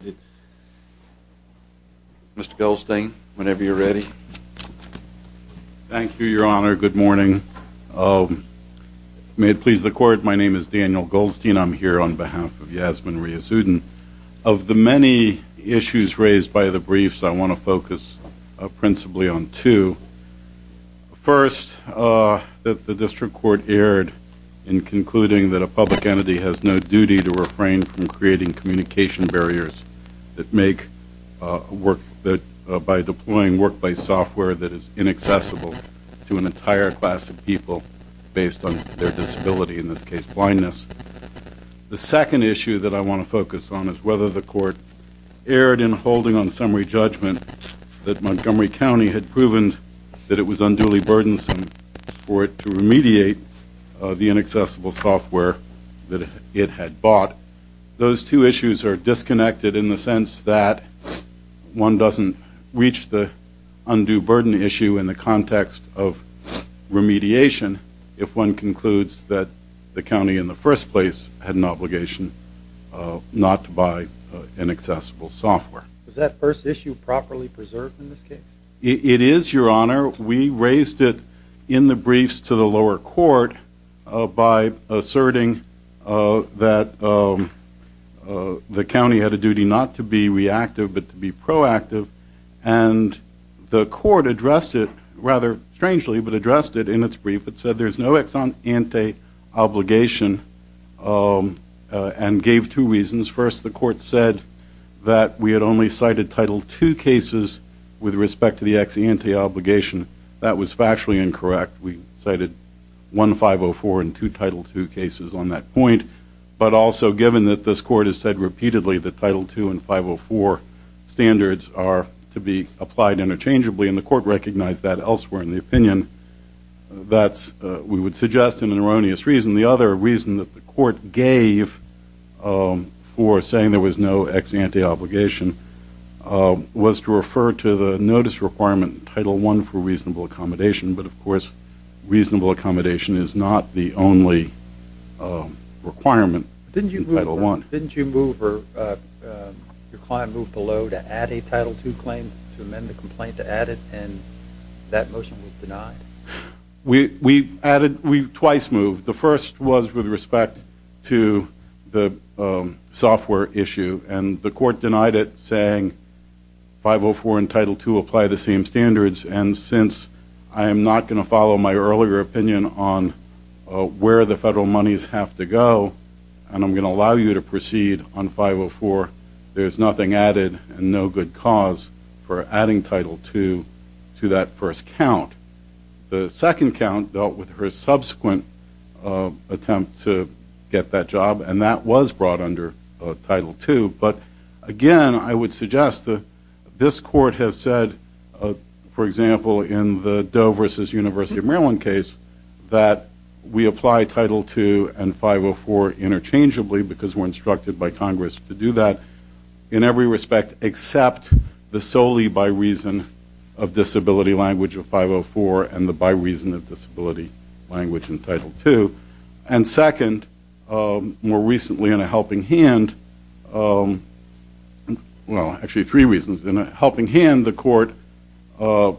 Mr. Goldstein, whenever you're ready. Thank you, your honor. Good morning. May it please the court, my name is Daniel Goldstein. I'm here on behalf of Yasmin Reyazuddin. Of the many issues raised by the briefs, I want to focus principally on two. First, that the district court erred in concluding that a public entity has no duty to refrain from creating communication barriers that make, by deploying workplace software that is inaccessible to an entire class of people based on their disability, in this case blindness. The second issue that I want to focus on is whether the court erred in holding on summary judgment that Montgomery County had proven that it was unduly burdensome for it to remediate the inaccessible software that it had bought. Those two issues are disconnected in the sense that one doesn't reach the undue burden issue in the context of remediation if one concludes that the county in the first place had an obligation not to buy inaccessible software. Is that first issue properly preserved in this case? It is, your honor. We raised it in the briefs to the lower court by asserting that the county had a duty not to be reactive but to be proactive and the court addressed it, rather strangely, but addressed it in its brief. It said there's no ex ante obligation and gave two reasons. First, the court said that we had only cited Title II cases with respect to the ex ante obligation. That was factually incorrect. We cited 1504 and two Title II cases on that point, but also given that this court has said repeatedly that Title II and 504 standards are to be applied interchangeably and the court recognized that elsewhere in the opinion, that's, we would suggest, an erroneous reason. The other reason that the court gave for saying there was no ex ante obligation was to refer to the notice requirement in Title I for reasonable accommodation, but of course reasonable accommodation is not the only requirement in Title I. Didn't you move or your client moved below to add a Title II claim to amend the complaint to add it and that motion was denied? We added, we twice moved. The first was with respect to the software issue and the court denied it saying 504 and Title II apply the same standards and since I am not going to follow my earlier opinion on where the federal monies have to go and I'm going to allow you to proceed on 504, there's nothing added and no good cause for adding Title II to that first count. The second count dealt with her subsequent attempt to get that job and that was brought under Title II, but again, I would suggest that this court has said, for example, in the Doe versus University of Maryland case, that we apply Title II and 504 interchangeably because we're instructed by Congress to do that in every respect except the solely by reason of disability language of 504 and the by reason of disability language in Title II. And second, more recently in a helping hand, well actually three reasons, in a helping hand the court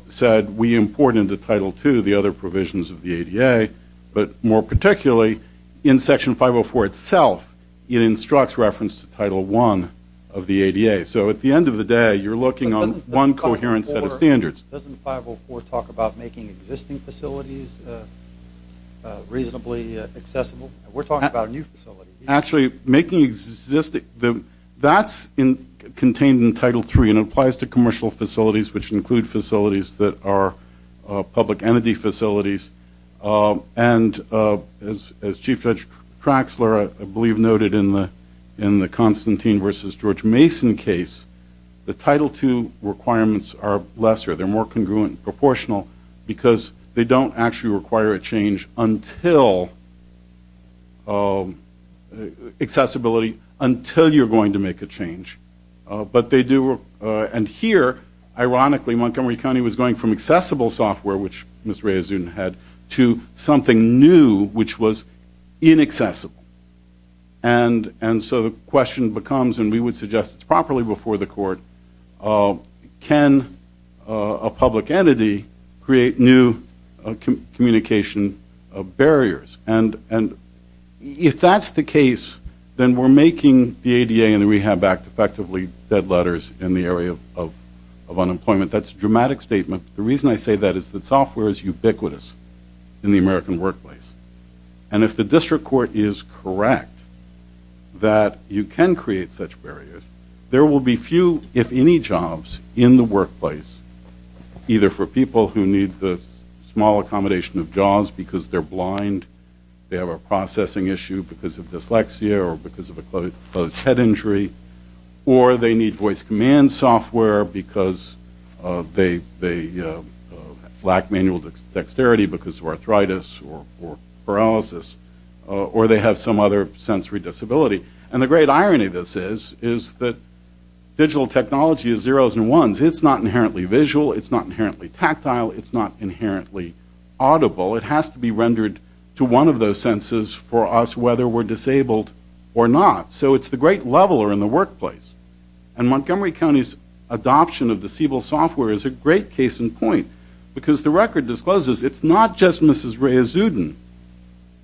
said we import into Title II the other provisions of the ADA, but more particularly in Section 504 itself, it instructs reference to Title I of the ADA. So at the end of the day you're looking on one coherent set of standards. Doesn't 504 talk about making existing facilities reasonably accessible? We're talking about a new facility. Actually making existing, that's contained in Title III and applies to commercial facilities which include facilities that are public entity facilities and as Chief Judge Traxler I believe noted in the Constantine versus George Mason case, the Title II requirements are lesser. They're more congruent and proportional because they don't actually require a change until accessibility, until you're going to make a change. But they do, and here ironically Montgomery County was going from accessible software, which Ms. Rehazoon had, to something new which was inaccessible. And so the question becomes, and we would suggest it's properly before the court, can a public entity create new communication barriers? And if that's the case, then we're making the ADA and the Rehab Act effectively dead letters in the area of unemployment. That's a dramatic statement. The reason I say that is that software is ubiquitous in the American workplace. And if the district court is correct that you can create such barriers, there will be few, if any, jobs in the workplace, either for people who need the small accommodation of JAWS because they're blind, they have a processing issue because of dyslexia or because of a closed head injury, or they need voice command software because they lack manual dexterity because of arthritis or paralysis, or they have some other sensory disability. And the great irony of this is that digital technology is zeros and ones. It's not inherently visual. It's not inherently tactile. It's not inherently audible. It has to be rendered to one of those senses for us whether we're disabled or not. So it's the great leveler in the workplace. And Montgomery County's adoption of the Siebel software is a great case in point because the record discloses it's not just Mrs. Rehazudin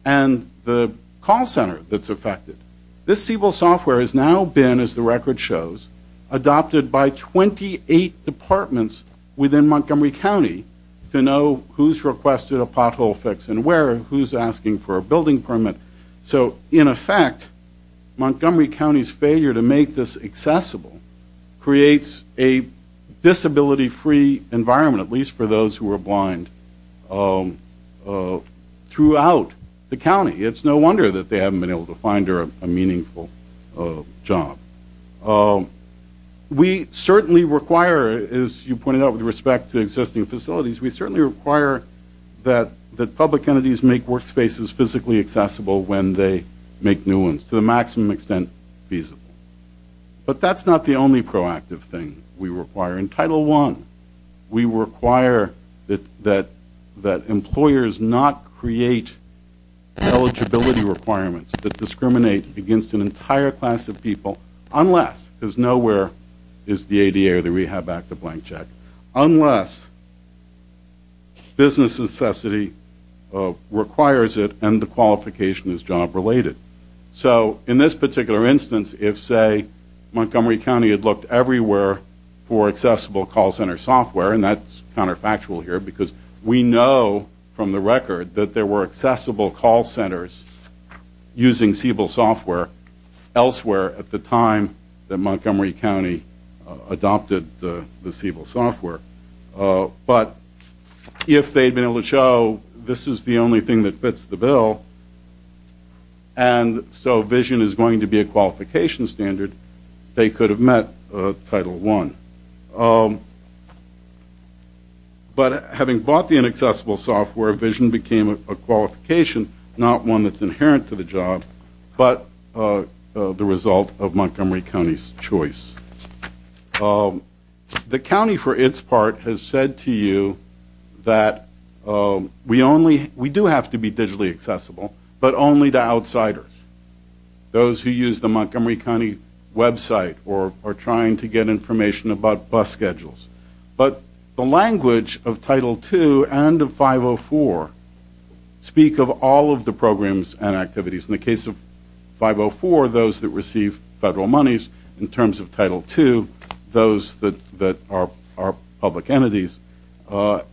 and the call center that's affected. This Siebel software has now been, as the record shows, adopted by 28 departments within Montgomery County to know who's requested a pothole fix and where, who's asking for a building permit. So, in effect, Montgomery County's failure to make this accessible creates a disability-free environment, at least for those who are blind, throughout the county. It's no wonder that they haven't been able to find her a meaningful job. We certainly require, as you pointed out with respect to existing facilities, we certainly require that public entities make workspaces physically accessible when they make new ones to the maximum extent feasible. But that's not the only proactive thing we require. In Title I, we require that employers not create eligibility requirements that discriminate against an entire class of people unless, because nowhere is the ADA or the Rehab Act a blank check, unless business necessity requires it and the qualification is job-related. So, in this particular instance, if, say, Montgomery County had looked everywhere for accessible call center software, and that's counterfactual here, because we know from the record that there were accessible call centers using Siebel software elsewhere at the time that Montgomery County adopted the Siebel software. But if they'd been able to show this is the only thing that fits the bill, and so vision is going to be a qualification standard, they could have met Title I. But having bought the inaccessible software, vision became a qualification, not one that's inherent to the job, but the result of Montgomery County's choice. The county, for its part, has said to you that we do have to be digitally accessible, but only to outsiders. Those who use the Montgomery County website or are trying to get information about bus schedules. But the language of Title II and of 504 speak of all of the programs and activities. In the case of 504, those that receive federal monies. In terms of Title II, those that are public entities.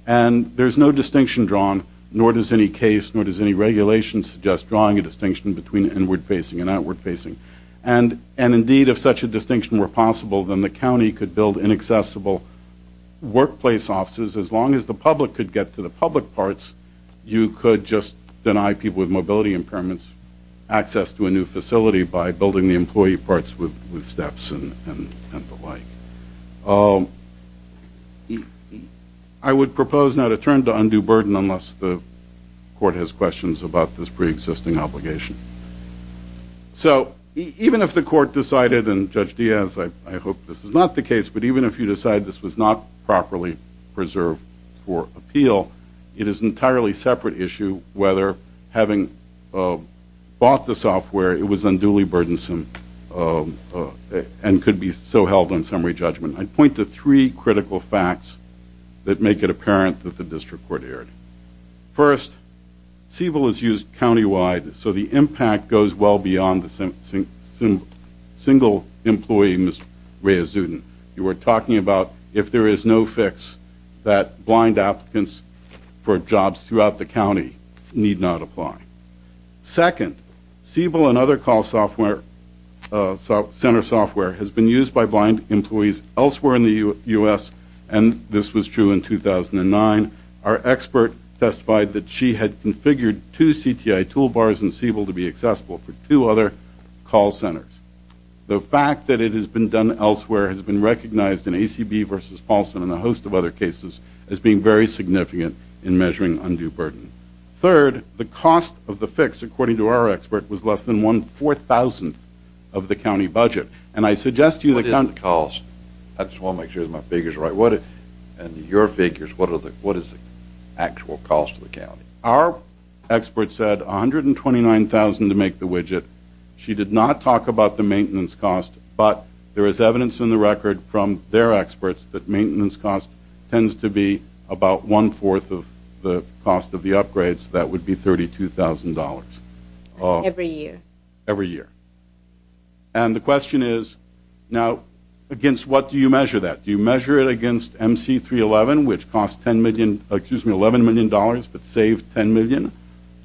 And there's no distinction drawn, nor does any case, nor does any regulation suggest drawing a distinction between inward-facing and outward-facing. And indeed, if such a distinction were possible, then the county could build inaccessible workplace offices. As long as the public could get to the public parts, you could just deny people with mobility impairments access to a new facility by building the employee parts with steps and the like. I would propose now to turn to undue burden, unless the court has questions about this preexisting obligation. So, even if the court decided, and Judge Diaz, I hope this is not the case, but even if you decide this was not properly preserved for appeal, it is an entirely separate issue whether having bought the software, it was unduly burdensome and could be so held on summary judgment. I'd point to three critical facts that make it apparent that the district court erred. First, Siebel is used countywide, so the impact goes well beyond the single employee, Ms. Rehazudin. You were talking about if there is no fix, that blind applicants for jobs throughout the county need not apply. Second, Siebel and other call center software has been used by blind employees elsewhere in the U.S., and this was true in 2009. Our expert testified that she had configured two CTI toolbars in Siebel to be accessible for two other call centers. The fact that it has been done elsewhere has been recognized in ACB versus Paulson and a host of other cases as being very significant in measuring undue burden. Third, the cost of the fix, according to our expert, was less than one-fourth thousandth of the county budget. What is the cost? I just want to make sure my figures are right. And your figures, what is the actual cost to the county? Our expert said $129,000 to make the widget. She did not talk about the maintenance cost, but there is evidence in the record from their experts that maintenance cost tends to be about one-fourth of the cost of the upgrades. That would be $32,000. Every year? Every year. And the question is, now, against what do you measure that? Do you measure it against MC311, which cost $11 million but saved $10 million?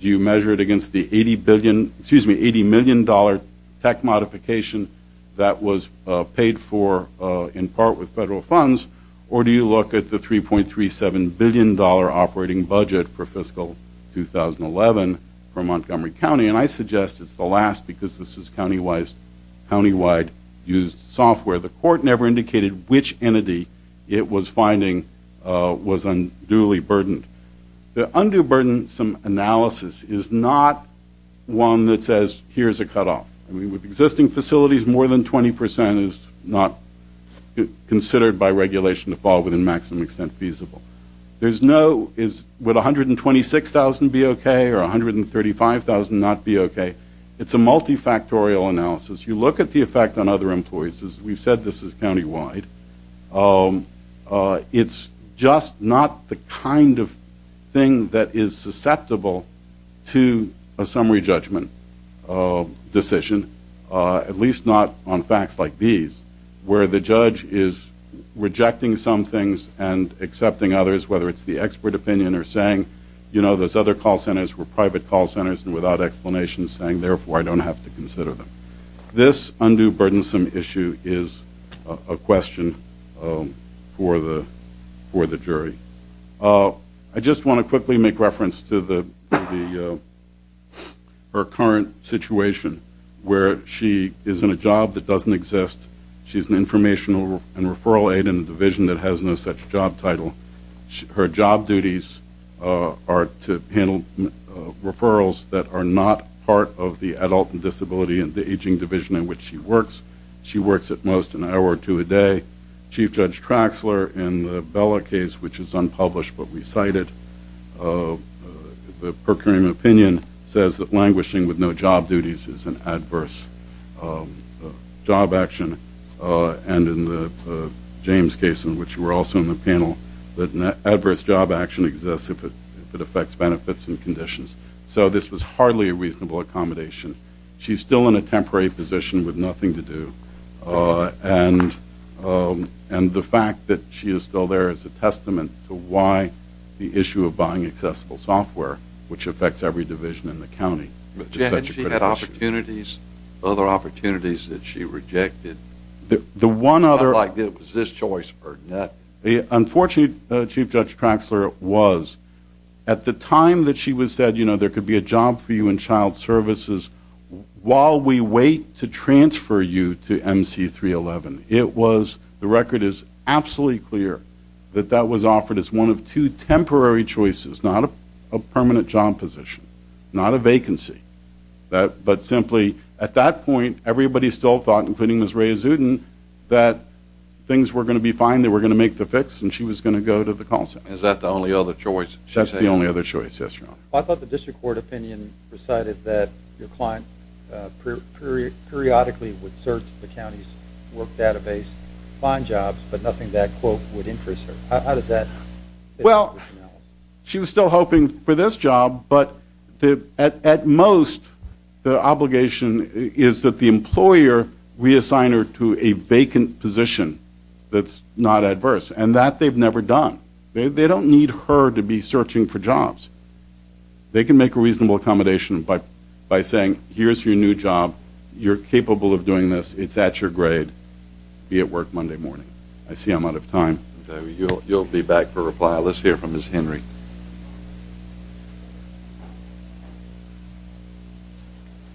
Do you measure it against the $80 million tech modification that was paid for in part with federal funds? Or do you look at the $3.37 billion operating budget for fiscal 2011 for Montgomery County? And I suggest it's the last because this is countywide used software. The court never indicated which entity it was finding was unduly burdened. The undue burden some analysis is not one that says, here's a cutoff. With existing facilities, more than 20% is not considered by regulation to fall within maximum extent feasible. Would $126,000 be okay or $135,000 not be okay? It's a multifactorial analysis. You look at the effect on other employees. We've said this is countywide. It's just not the kind of thing that is susceptible to a summary judgment decision, at least not on facts like these, where the judge is rejecting some things and accepting others, whether it's the expert opinion or saying, you know, those other call centers were private call centers and without explanation saying, therefore, I don't have to consider them. This undue burdensome issue is a question for the jury. I just want to quickly make reference to her current situation where she is in a job that doesn't exist. She's an informational and referral aid in a division that has no such job title. Her job duties are to handle referrals that are not part of the adult and disability and the aging division in which she works. She works at most an hour or two a day. Chief Judge Traxler in the Bella case, which is unpublished but recited, the per curiam opinion says that languishing with no job duties is an adverse job action. And in the James case, in which you were also in the panel, that an adverse job action exists if it affects benefits and conditions. So this was hardly a reasonable accommodation. She's still in a temporary position with nothing to do. And the fact that she is still there is a testament to why the issue of buying accessible software, which affects every division in the county, is such a critical issue. Other opportunities that she rejected? The one other... It's not like it was this choice or that. Unfortunately, Chief Judge Traxler, it was. At the time that she was said, you know, there could be a job for you in child services, while we wait to transfer you to MC311, it was, the record is absolutely clear that that was offered as one of two temporary choices, not a permanent job position, not a vacancy. But simply, at that point, everybody still thought, including Ms. Rae Azudin, that things were going to be fine, they were going to make the fix, and she was going to go to the call center. Is that the only other choice? That's the only other choice, yes, Your Honor. I thought the district court opinion recited that your client periodically would search the county's work database to find jobs, but nothing that, quote, would interest her. How does that... Well, she was still hoping for this job, but at most, the obligation is that the employer reassign her to a vacant position that's not adverse, and that they've never done. They don't need her to be searching for jobs. They can make a reasonable accommodation by saying, here's your new job, you're capable of doing this, it's at your grade, be at work Monday morning. I see I'm out of time. You'll be back for reply. Let's hear from Ms. Henry.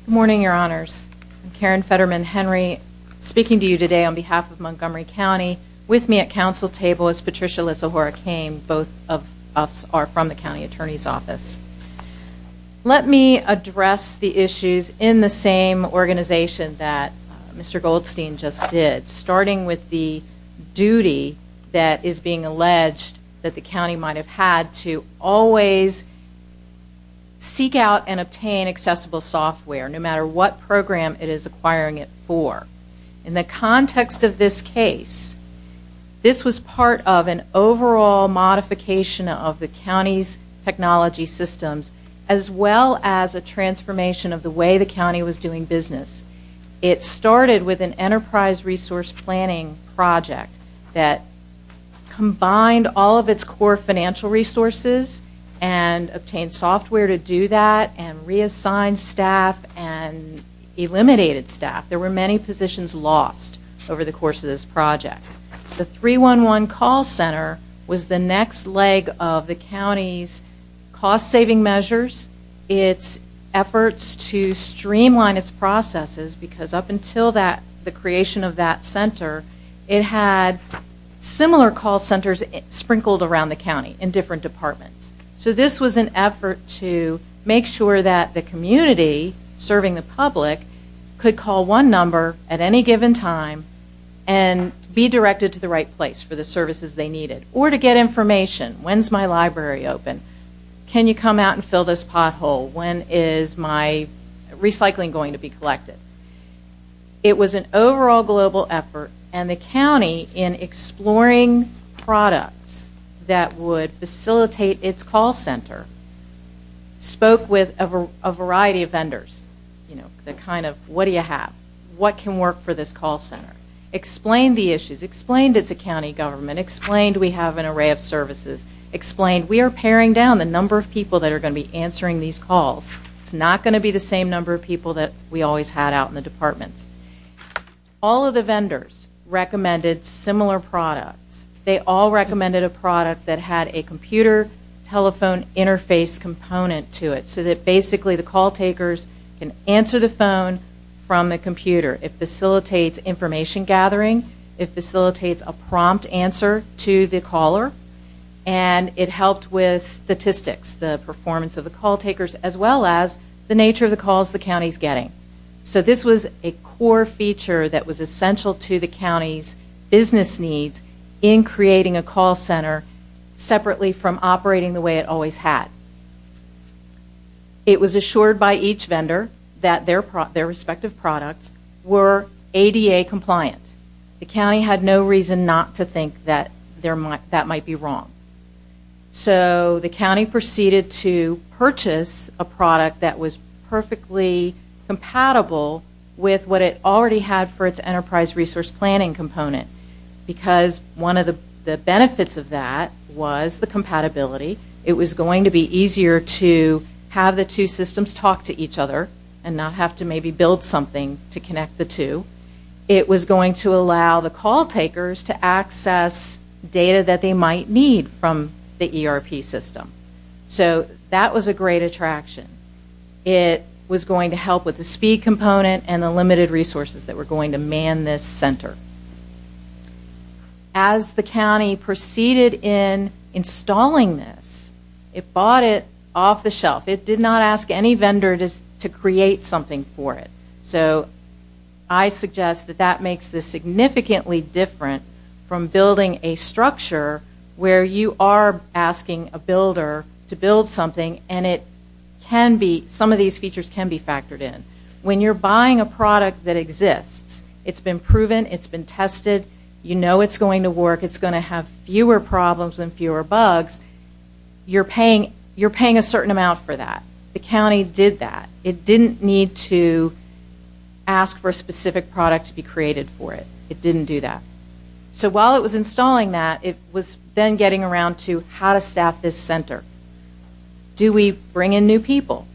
Good morning, Your Honors. I'm Karen Fetterman Henry, speaking to you today on behalf of Montgomery County. With me at council table is Patricia Lissahora Cain. Both of us are from the county attorney's office. Let me address the issues in the same organization that Mr. Goldstein just did. Starting with the duty that is being alleged that the county might have had to always seek out and obtain accessible software, no matter what program it is acquiring it for. In the context of this case, this was part of an overall modification of the county's technology systems, as well as a transformation of the way the county was doing business. It started with an enterprise resource planning project that combined all of its core financial resources and obtained software to do that and reassigned staff and eliminated staff. There were many positions lost over the course of this project. The 311 call center was the next leg of the county's cost-saving measures, its efforts to streamline its processes, because up until the creation of that center, it had similar call centers sprinkled around the county in different departments. This was an effort to make sure that the community serving the public could call one number at any given time and be directed to the right place for the services they needed, or to get information. When is my library open? Can you come out and fill this pothole? When is my recycling going to be collected? It was an overall global effort, and the county, in exploring products that would facilitate its call center, spoke with a variety of vendors. The kind of, what do you have? What can work for this call center? Explained the issues. Explained it's a county government. Explained we have an array of services. Explained we are paring down the number of people that are going to be answering these calls. It's not going to be the same number of people that we always had out in the departments. All of the vendors recommended similar products. They all recommended a product that had a computer telephone interface component to it, so that basically the call takers can answer the phone from the computer. It facilitates information gathering. It facilitates a prompt answer to the caller. It helped with statistics, the performance of the call takers, as well as the nature of the calls the county is getting. This was a core feature that was essential to the county's business needs in creating a call center separately from operating the way it always had. It was assured by each vendor that their respective products were ADA compliant. The county had no reason not to think that that might be wrong. So the county proceeded to purchase a product that was perfectly compatible with what it already had for its enterprise resource planning component. Because one of the benefits of that was the compatibility. It was going to be easier to have the two systems talk to each other and not have to maybe build something to connect the two. It was going to allow the call takers to access data that they might need from the ERP system. So that was a great attraction. It was going to help with the speed component and the limited resources that were going to man this center. As the county proceeded in installing this, it bought it off the shelf. It did not ask any vendor to create something for it. So I suggest that that makes this significantly different from building a structure where you are asking a builder to build something, and some of these features can be factored in. When you're buying a product that exists, it's been proven, it's been tested, you know it's going to work, it's going to have fewer problems and fewer bugs, you're paying a certain amount for that. The county did that. It didn't need to ask for a specific product to be created for it. It didn't do that. So while it was installing that, it was then getting around to how to staff this center. Do we bring in new people?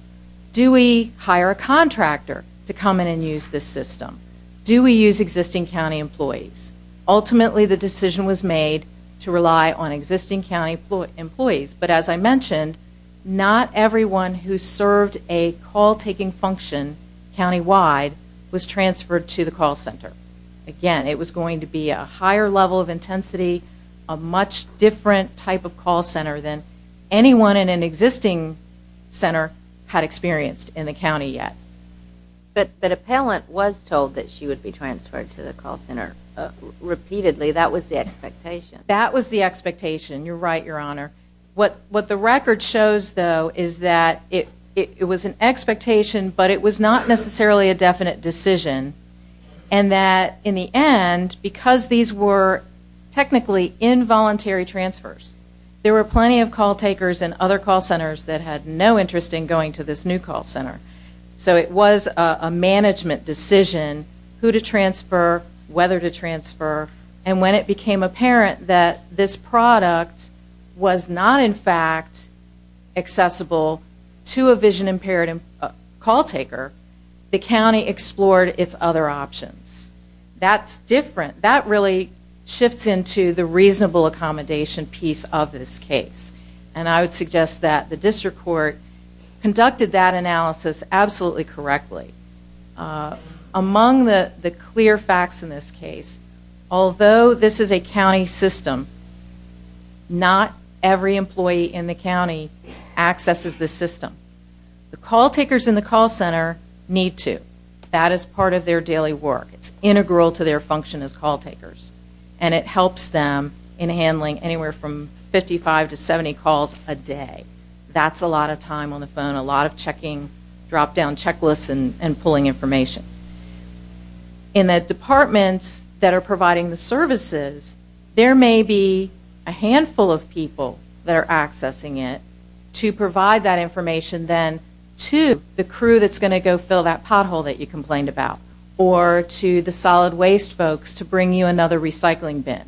Do we hire a contractor to come in and use this system? Do we use existing county employees? Ultimately the decision was made to rely on existing county employees. But as I mentioned, not everyone who served a call-taking function countywide was transferred to the call center. Again, it was going to be a higher level of intensity, a much different type of call center than anyone in an existing center had experienced in the county yet. But an appellant was told that she would be transferred to the call center repeatedly. That was the expectation. That was the expectation. You're right, Your Honor. What the record shows, though, is that it was an expectation, but it was not necessarily a definite decision, and that in the end, because these were technically involuntary transfers, there were plenty of call takers in other call centers that had no interest in going to this new call center. So it was a management decision who to transfer, whether to transfer, and when it became apparent that this product was not, in fact, accessible to a vision-impaired call taker, the county explored its other options. That's different. That really shifts into the reasonable accommodation piece of this case, and I would suggest that the district court conducted that analysis absolutely correctly. Among the clear facts in this case, although this is a county system, not every employee in the county accesses this system. The call takers in the call center need to. That is part of their daily work. It's integral to their function as call takers, and it helps them in handling anywhere from 55 to 70 calls a day. That's a lot of time on the phone, a lot of checking, drop-down checklists, and pulling information. In the departments that are providing the services, there may be a handful of people that are accessing it to provide that information then to the crew that's going to go fill that pothole that you complained about or to the solid waste folks to bring you another recycling bin.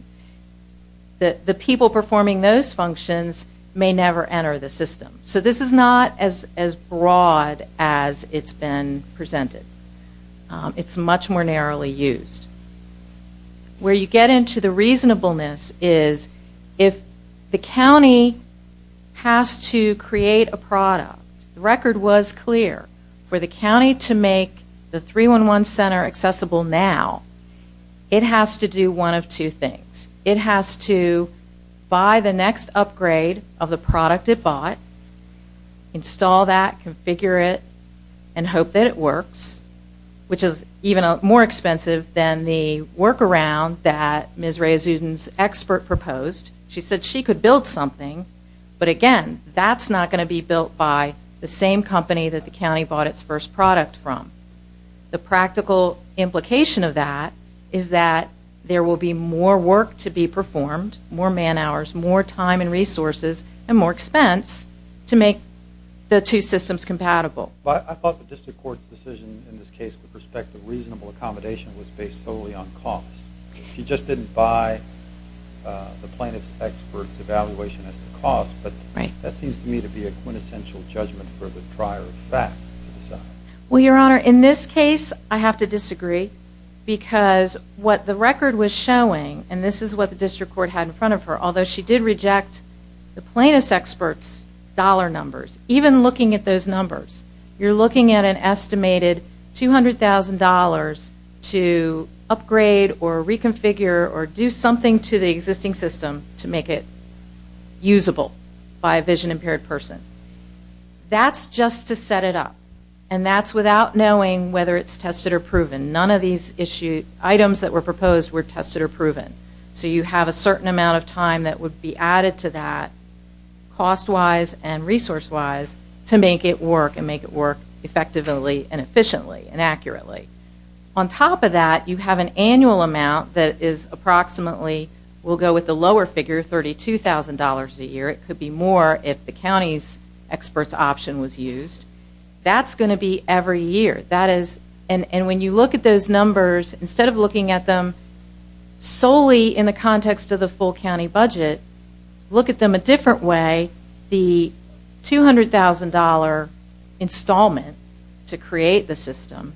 The people performing those functions may never enter the system. So this is not as broad as it's been presented. It's much more narrowly used. Where you get into the reasonableness is if the county has to create a product, the record was clear. For the county to make the 311 center accessible now, it has to do one of two things. It has to buy the next upgrade of the product it bought, install that, configure it, and hope that it works, which is even more expensive than the workaround that Ms. Rae Zudin's expert proposed. She said she could build something, but again, that's not going to be built by the same company that the county bought its first product from. The practical implication of that is that there will be more work to be performed, more man-hours, more time and resources, and more expense to make the two systems compatible. I thought the district court's decision in this case with respect to reasonable accommodation was based solely on cost. She just didn't buy the plaintiff's expert's evaluation as the cost, but that seems to me to be a quintessential judgment for the prior fact. Well, Your Honor, in this case, I have to disagree because what the record was showing, and this is what the district court had in front of her, although she did reject the plaintiff's expert's dollar numbers, even looking at those numbers, you're looking at an estimated $200,000 to upgrade or reconfigure or do something to the existing system to make it usable by a vision-impaired person. That's just to set it up, and that's without knowing whether it's tested or proven. None of these items that were proposed were tested or proven, so you have a certain amount of time that would be added to that cost-wise and resource-wise to make it work and make it work effectively and efficiently and accurately. On top of that, you have an annual amount that is approximately, we'll go with the lower figure, $32,000 a year. It could be more if the county's expert's option was used. That's going to be every year, and when you look at those numbers, instead of looking at them solely in the context of the full county budget, look at them a different way. The $200,000 installment to create the system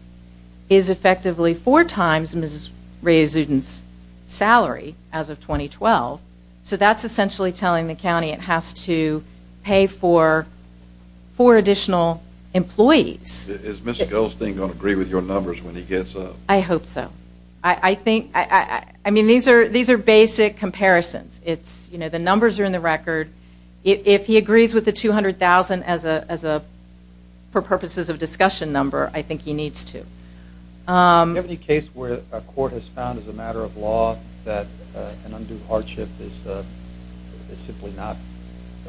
is effectively four times Ms. Raizudin's salary as of 2012, so that's essentially telling the county it has to pay for four additional employees. Is Ms. Goldstein going to agree with your numbers when he gets up? I hope so. I mean, these are basic comparisons. The numbers are in the record. If he agrees with the $200,000 for purposes of discussion number, I think he needs to. Do you have any case where a court has found as a matter of law that an undue hardship is simply not,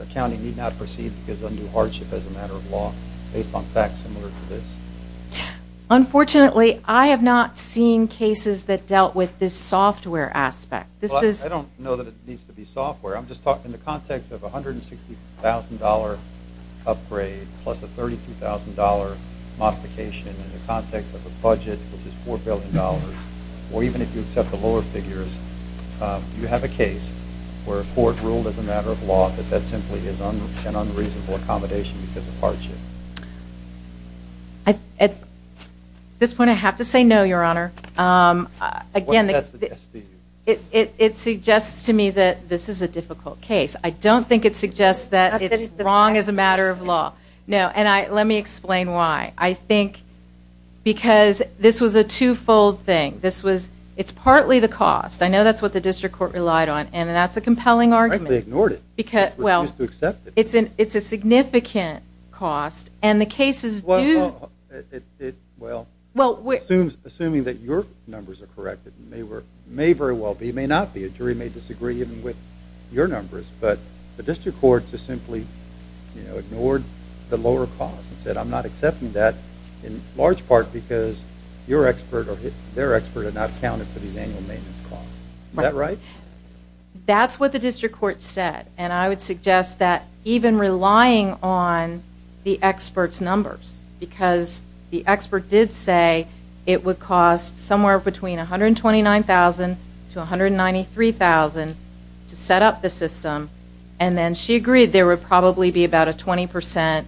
a county need not proceed because of undue hardship as a matter of law, based on facts similar to this? Unfortunately, I have not seen cases that dealt with this software aspect. I don't know that it needs to be software. I'm just talking in the context of a $160,000 upgrade plus a $32,000 modification in the context of a budget which is $4 billion. Or even if you accept the lower figures, do you have a case where a court ruled as a matter of law that that simply is an unreasonable accommodation because of hardship? At this point, I have to say no, Your Honor. What does that suggest to you? It suggests to me that this is a difficult case. I don't think it suggests that it's wrong as a matter of law. Let me explain why. I think because this was a two-fold thing. It's partly the cost. I know that's what the district court relied on, and that's a compelling argument. They ignored it. They refused to accept it. It's a significant cost. Well, assuming that your numbers are correct, it may very well be, it may not be, a jury may disagree with your numbers, but the district court just simply ignored the lower cost and said I'm not accepting that in large part because your expert or their expert are not accounted for these annual maintenance costs. Is that right? That's what the district court said. And I would suggest that even relying on the expert's numbers, because the expert did say it would cost somewhere between $129,000 to $193,000 to set up the system, and then she agreed there would probably be about a 20%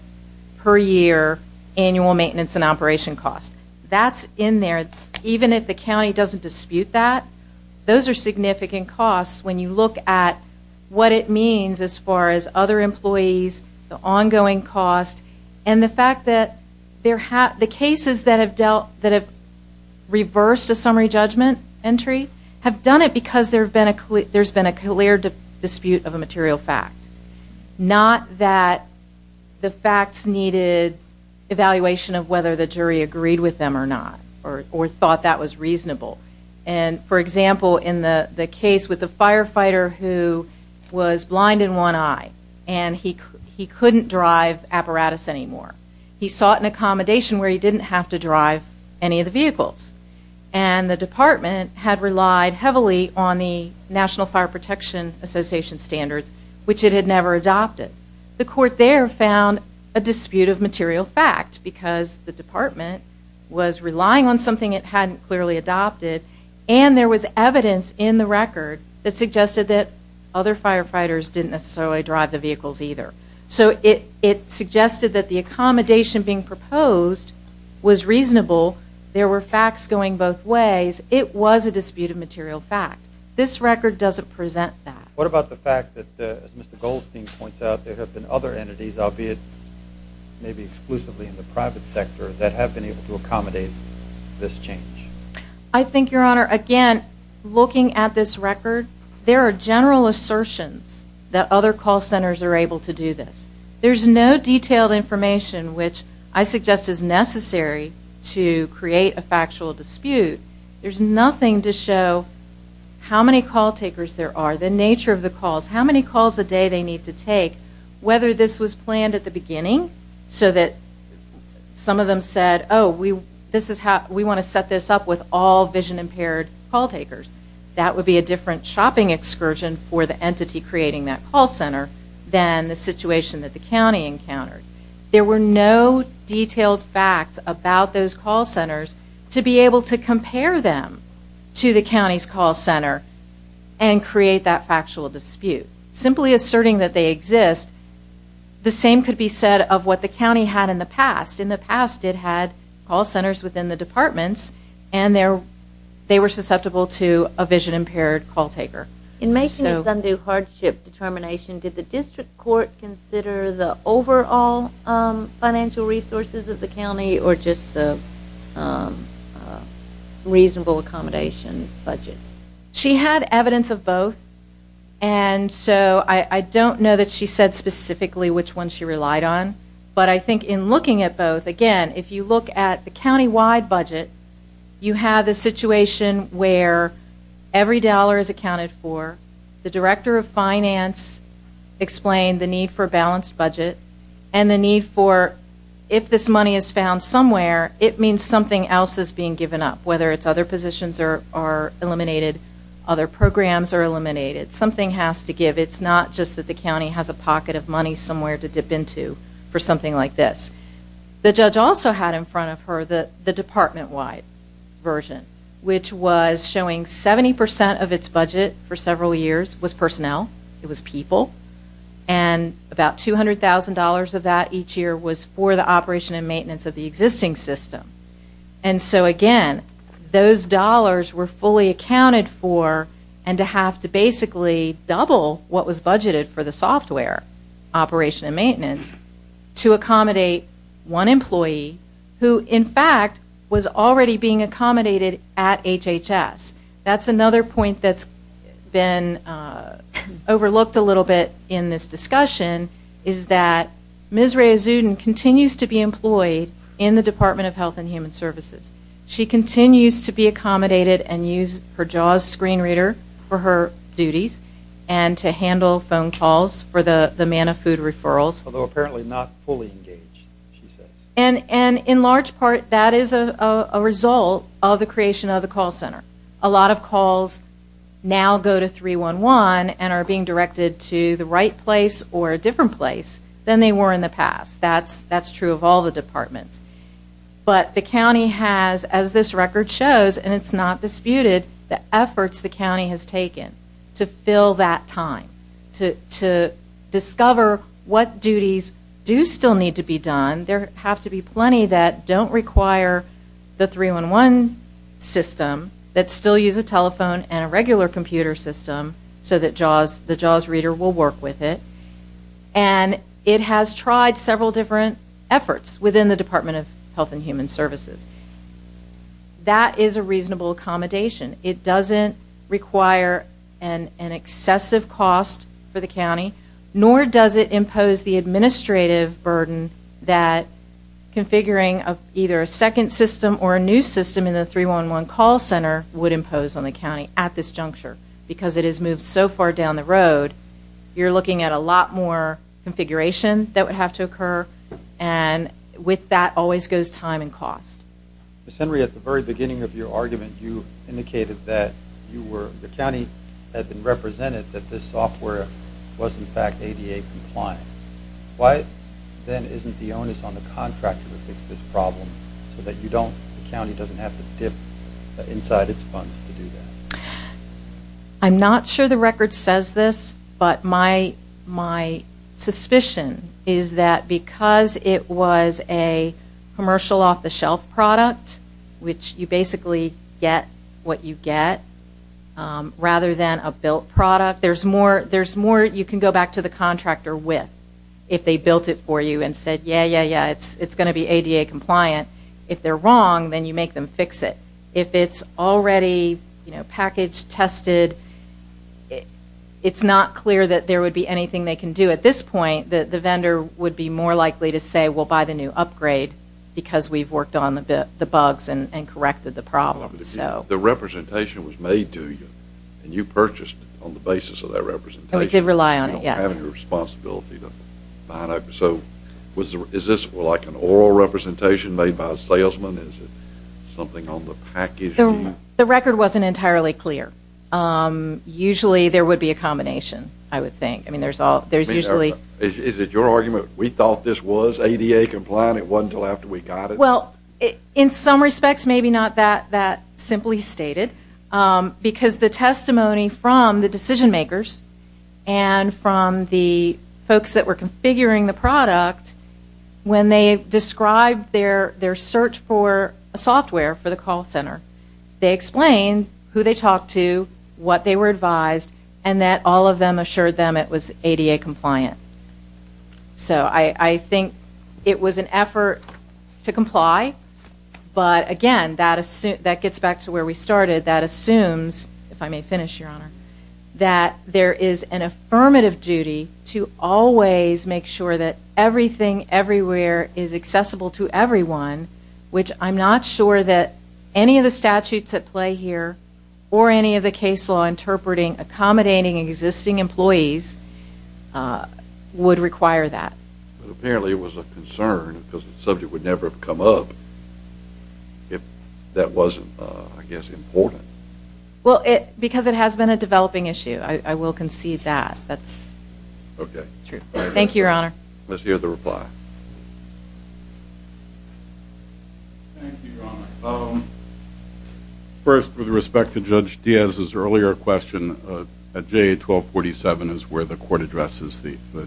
per year annual maintenance and operation cost. That's in there. Even if the county doesn't dispute that, those are significant costs. When you look at what it means as far as other employees, the ongoing cost, and the fact that the cases that have reversed a summary judgment entry have done it because there's been a clear dispute of a material fact, not that the facts needed evaluation of whether the jury agreed with them or not or thought that was reasonable. For example, in the case with the firefighter who was blind in one eye and he couldn't drive apparatus anymore. He sought an accommodation where he didn't have to drive any of the vehicles. And the department had relied heavily on the National Fire Protection Association standards, which it had never adopted. The court there found a dispute of material fact because the department was relying on something it hadn't clearly adopted, and there was evidence in the record that suggested that other firefighters didn't necessarily drive the vehicles either. So it suggested that the accommodation being proposed was reasonable. There were facts going both ways. It was a dispute of material fact. This record doesn't present that. What about the fact that, as Mr. Goldstein points out, there have been other entities, albeit maybe exclusively in the private sector, that have been able to accommodate this change? I think, Your Honor, again, looking at this record, there are general assertions that other call centers are able to do this. There's no detailed information which I suggest is necessary to create a factual dispute. There's nothing to show how many call takers there are, the nature of the calls, how many calls a day they need to take, whether this was planned at the beginning so that some of them said, oh, we want to set this up with all vision-impaired call takers. That would be a different shopping excursion for the entity creating that call center than the situation that the county encountered. There were no detailed facts about those call centers to be able to compare them to the county's call center and create that factual dispute. Simply asserting that they exist, the same could be said of what the county had in the past. In the past, it had call centers within the departments, and they were susceptible to a vision-impaired call taker. In Mason's undue hardship determination, did the district court consider the overall financial resources of the county or just the reasonable accommodation budget? She had evidence of both, and so I don't know that she said specifically which one she relied on, but I think in looking at both, again, if you look at the countywide budget, you have the situation where every dollar is accounted for, the director of finance explained the need for a balanced budget, and the need for if this money is found somewhere, it means something else is being given up, whether it's other positions are eliminated, other programs are eliminated. Something has to give. It's not just that the county has a pocket of money somewhere to dip into for something like this. The judge also had in front of her the department-wide version, which was showing 70% of its budget for several years was personnel, it was people, and about $200,000 of that each year was for the operation and maintenance of the existing system. And so, again, those dollars were fully accounted for and to have to basically double what was budgeted for the software operation and maintenance to accommodate one employee who, in fact, was already being accommodated at HHS. That's another point that's been overlooked a little bit in this discussion, is that Ms. Rhea Zudin continues to be employed in the Department of Health and Human Services. She continues to be accommodated and use her JAWS screen reader for her duties and to handle phone calls for the man of food referrals. Although apparently not fully engaged, she says. And in large part, that is a result of the creation of the call center. A lot of calls now go to 311 and are being directed to the right place or a different place than they were in the past. That's true of all the departments. But the county has, as this record shows, and it's not disputed, the efforts the county has taken to fill that time, to discover what duties do still need to be done. There have to be plenty that don't require the 311 system, that still use a telephone and a regular computer system so that the JAWS reader will work with it. And it has tried several different efforts within the Department of Health and Human Services. That is a reasonable accommodation. It doesn't require an excessive cost for the county, nor does it impose the administrative burden that configuring either a second system or a new system in the 311 call center would impose on the county at this juncture. Because it has moved so far down the road, you're looking at a lot more configuration that would have to occur, and with that always goes time and cost. Ms. Henry, at the very beginning of your argument, you indicated that the county had been represented that this software was in fact ADA compliant. Why then isn't the onus on the contractor to fix this problem so that the county doesn't have to dip inside its funds to do that? I'm not sure the record says this, but my suspicion is that because it was a commercial off-the-shelf product, which you basically get what you get rather than a built product, there's more you can go back to the contractor with if they built it for you and said, yeah, yeah, yeah, it's going to be ADA compliant. If they're wrong, then you make them fix it. If it's already packaged, tested, it's not clear that there would be anything they can do. At this point, the vendor would be more likely to say, because we've worked on the bugs and corrected the problems. The representation was made to you, and you purchased on the basis of that representation. We did rely on it, yes. You don't have any responsibility to find out. So is this like an oral representation made by a salesman? Is it something on the package? The record wasn't entirely clear. Usually there would be a combination, I would think. Is it your argument, we thought this was ADA compliant, it wasn't until after we got it? Well, in some respects, maybe not that simply stated, because the testimony from the decision makers and from the folks that were configuring the product, when they described their search for software for the call center, they explained who they talked to, what they were advised, and that all of them assured them it was ADA compliant. So I think it was an effort to comply, but again, that gets back to where we started, that assumes, if I may finish, Your Honor, that there is an affirmative duty to always make sure that everything, everywhere, is accessible to everyone, which I'm not sure that any of the statutes at play here or any of the case law interpreting accommodating existing employees would require that. But apparently it was a concern because the subject would never have come up if that wasn't, I guess, important. Well, because it has been a developing issue, I will concede that. Okay. Thank you, Your Honor. Let's hear the reply. Thank you, Your Honor. First, with respect to Judge Diaz's earlier question, at JA 1247 is where the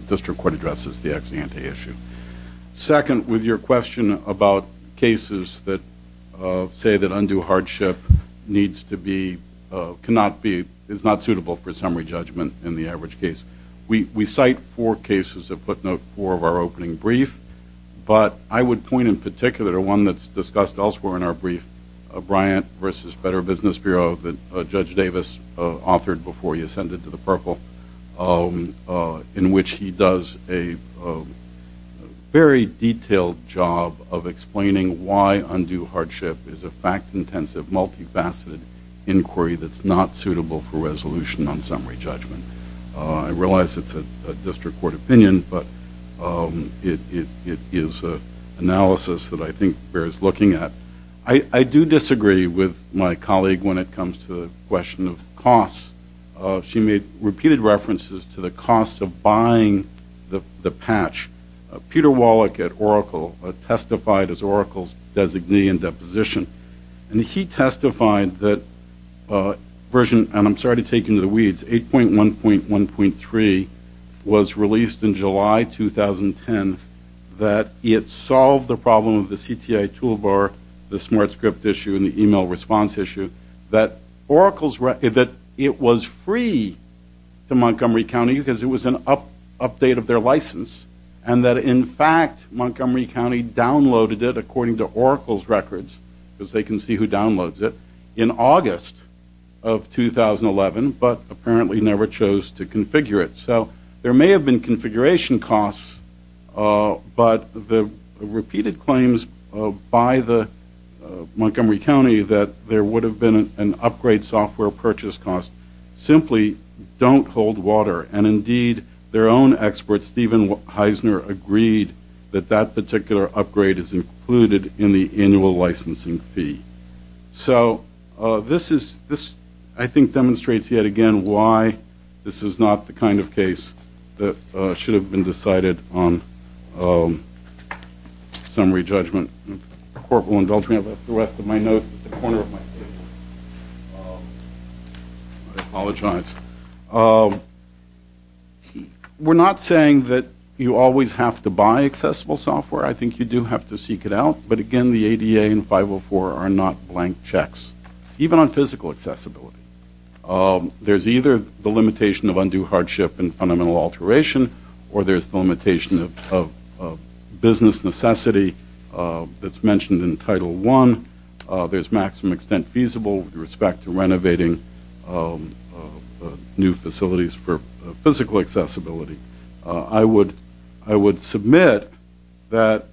district court addresses the ex-ante issue. Second, with your question about cases that say that undue hardship is not suitable for summary judgment in the average case, we cite four cases that footnote four of our opening brief, but I would point in particular to one that's discussed elsewhere in our brief, Bryant v. Better Business Bureau that Judge Davis authored before he ascended to the purple, in which he does a very detailed job of explaining why undue hardship is a fact-intensive, multifaceted inquiry that's not suitable for resolution on summary judgment. I realize it's a district court opinion, but it is an analysis that I think bears looking at. I do disagree with my colleague when it comes to the question of costs. She made repeated references to the cost of buying the patch. Peter Wallach at Oracle testified as Oracle's designee in deposition, and he testified that version, and I'm sorry to take you into the weeds, 8.1.1.3 was released in July 2010, that it solved the problem of the CTI toolbar, the smart script issue, and the email response issue, that it was free to Montgomery County because it was an update of their license, and that in fact Montgomery County downloaded it according to Oracle's records, because they can see who downloads it, in August of 2011, but apparently never chose to configure it. So there may have been configuration costs, but the repeated claims by Montgomery County that there would have been an upgrade software purchase cost simply don't hold water, and indeed their own expert, Stephen Heisner, agreed that that particular upgrade is included in the annual licensing fee. So this, I think, demonstrates yet again why this is not the kind of case that should have been decided on summary judgment. Corporal, indulge me for the rest of my notes at the corner of my table. I apologize. We're not saying that you always have to buy accessible software. I think you do have to seek it out, but again the ADA and 504 are not blank checks, even on physical accessibility. There's either the limitation of undue hardship and fundamental alteration, or there's the limitation of business necessity that's mentioned in Title I. There's maximum extent feasible with respect to renovating new facilities for physical accessibility. I would submit that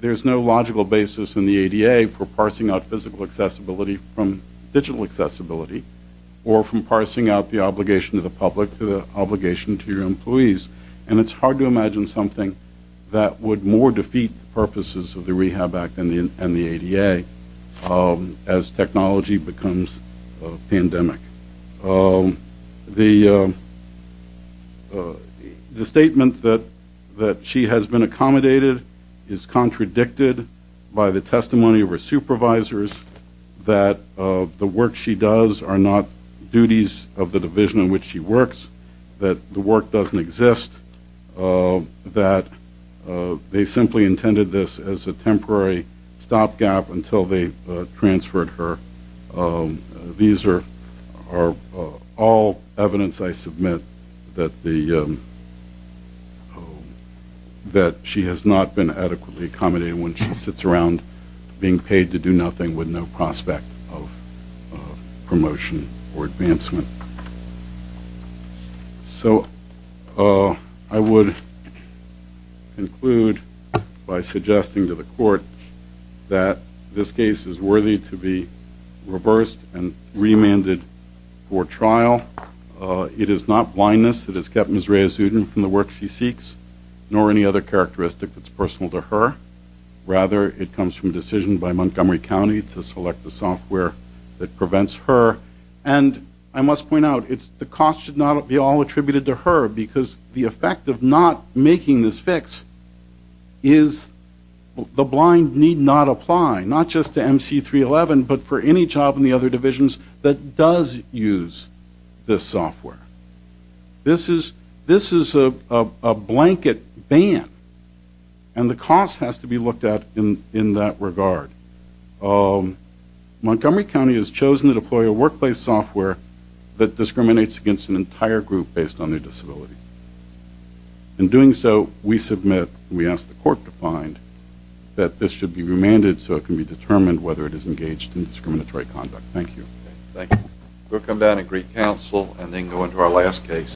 there's no logical basis in the ADA for parsing out physical accessibility from digital accessibility or from parsing out the obligation to the public to the obligation to your employees, and it's hard to imagine something that would more defeat the purposes of the Rehab Act and the ADA as technology becomes a pandemic. The statement that she has been accommodated is contradicted by the testimony of her supervisors that the work she does are not duties of the division in which she works, that the work doesn't exist, that they simply intended this as a temporary stopgap until they transferred her. These are all evidence, I submit, that she has not been adequately accommodated when she sits around being paid to do nothing with no prospect of promotion or advancement. So I would conclude by suggesting to the Court that this case is worthy to be reversed and remanded for trial. It is not blindness that has kept Ms. Rehazuddin from the work she seeks, nor any other characteristic that's personal to her. Rather, it comes from a decision by Montgomery County to select the software that prevents her. And I must point out, the cost should not be all attributed to her because the effect of not making this fix is the blind need not apply, not just to MC311, but for any job in the other divisions that does use this software. This is a blanket ban, and the cost has to be looked at in that regard. Montgomery County has chosen to deploy a workplace software that discriminates against an entire group based on their disability. In doing so, we submit, we ask the Court to find, that this should be remanded so it can be determined whether it is engaged in discriminatory conduct. Thank you. Thank you. We'll come down and greet counsel and then go into our last case.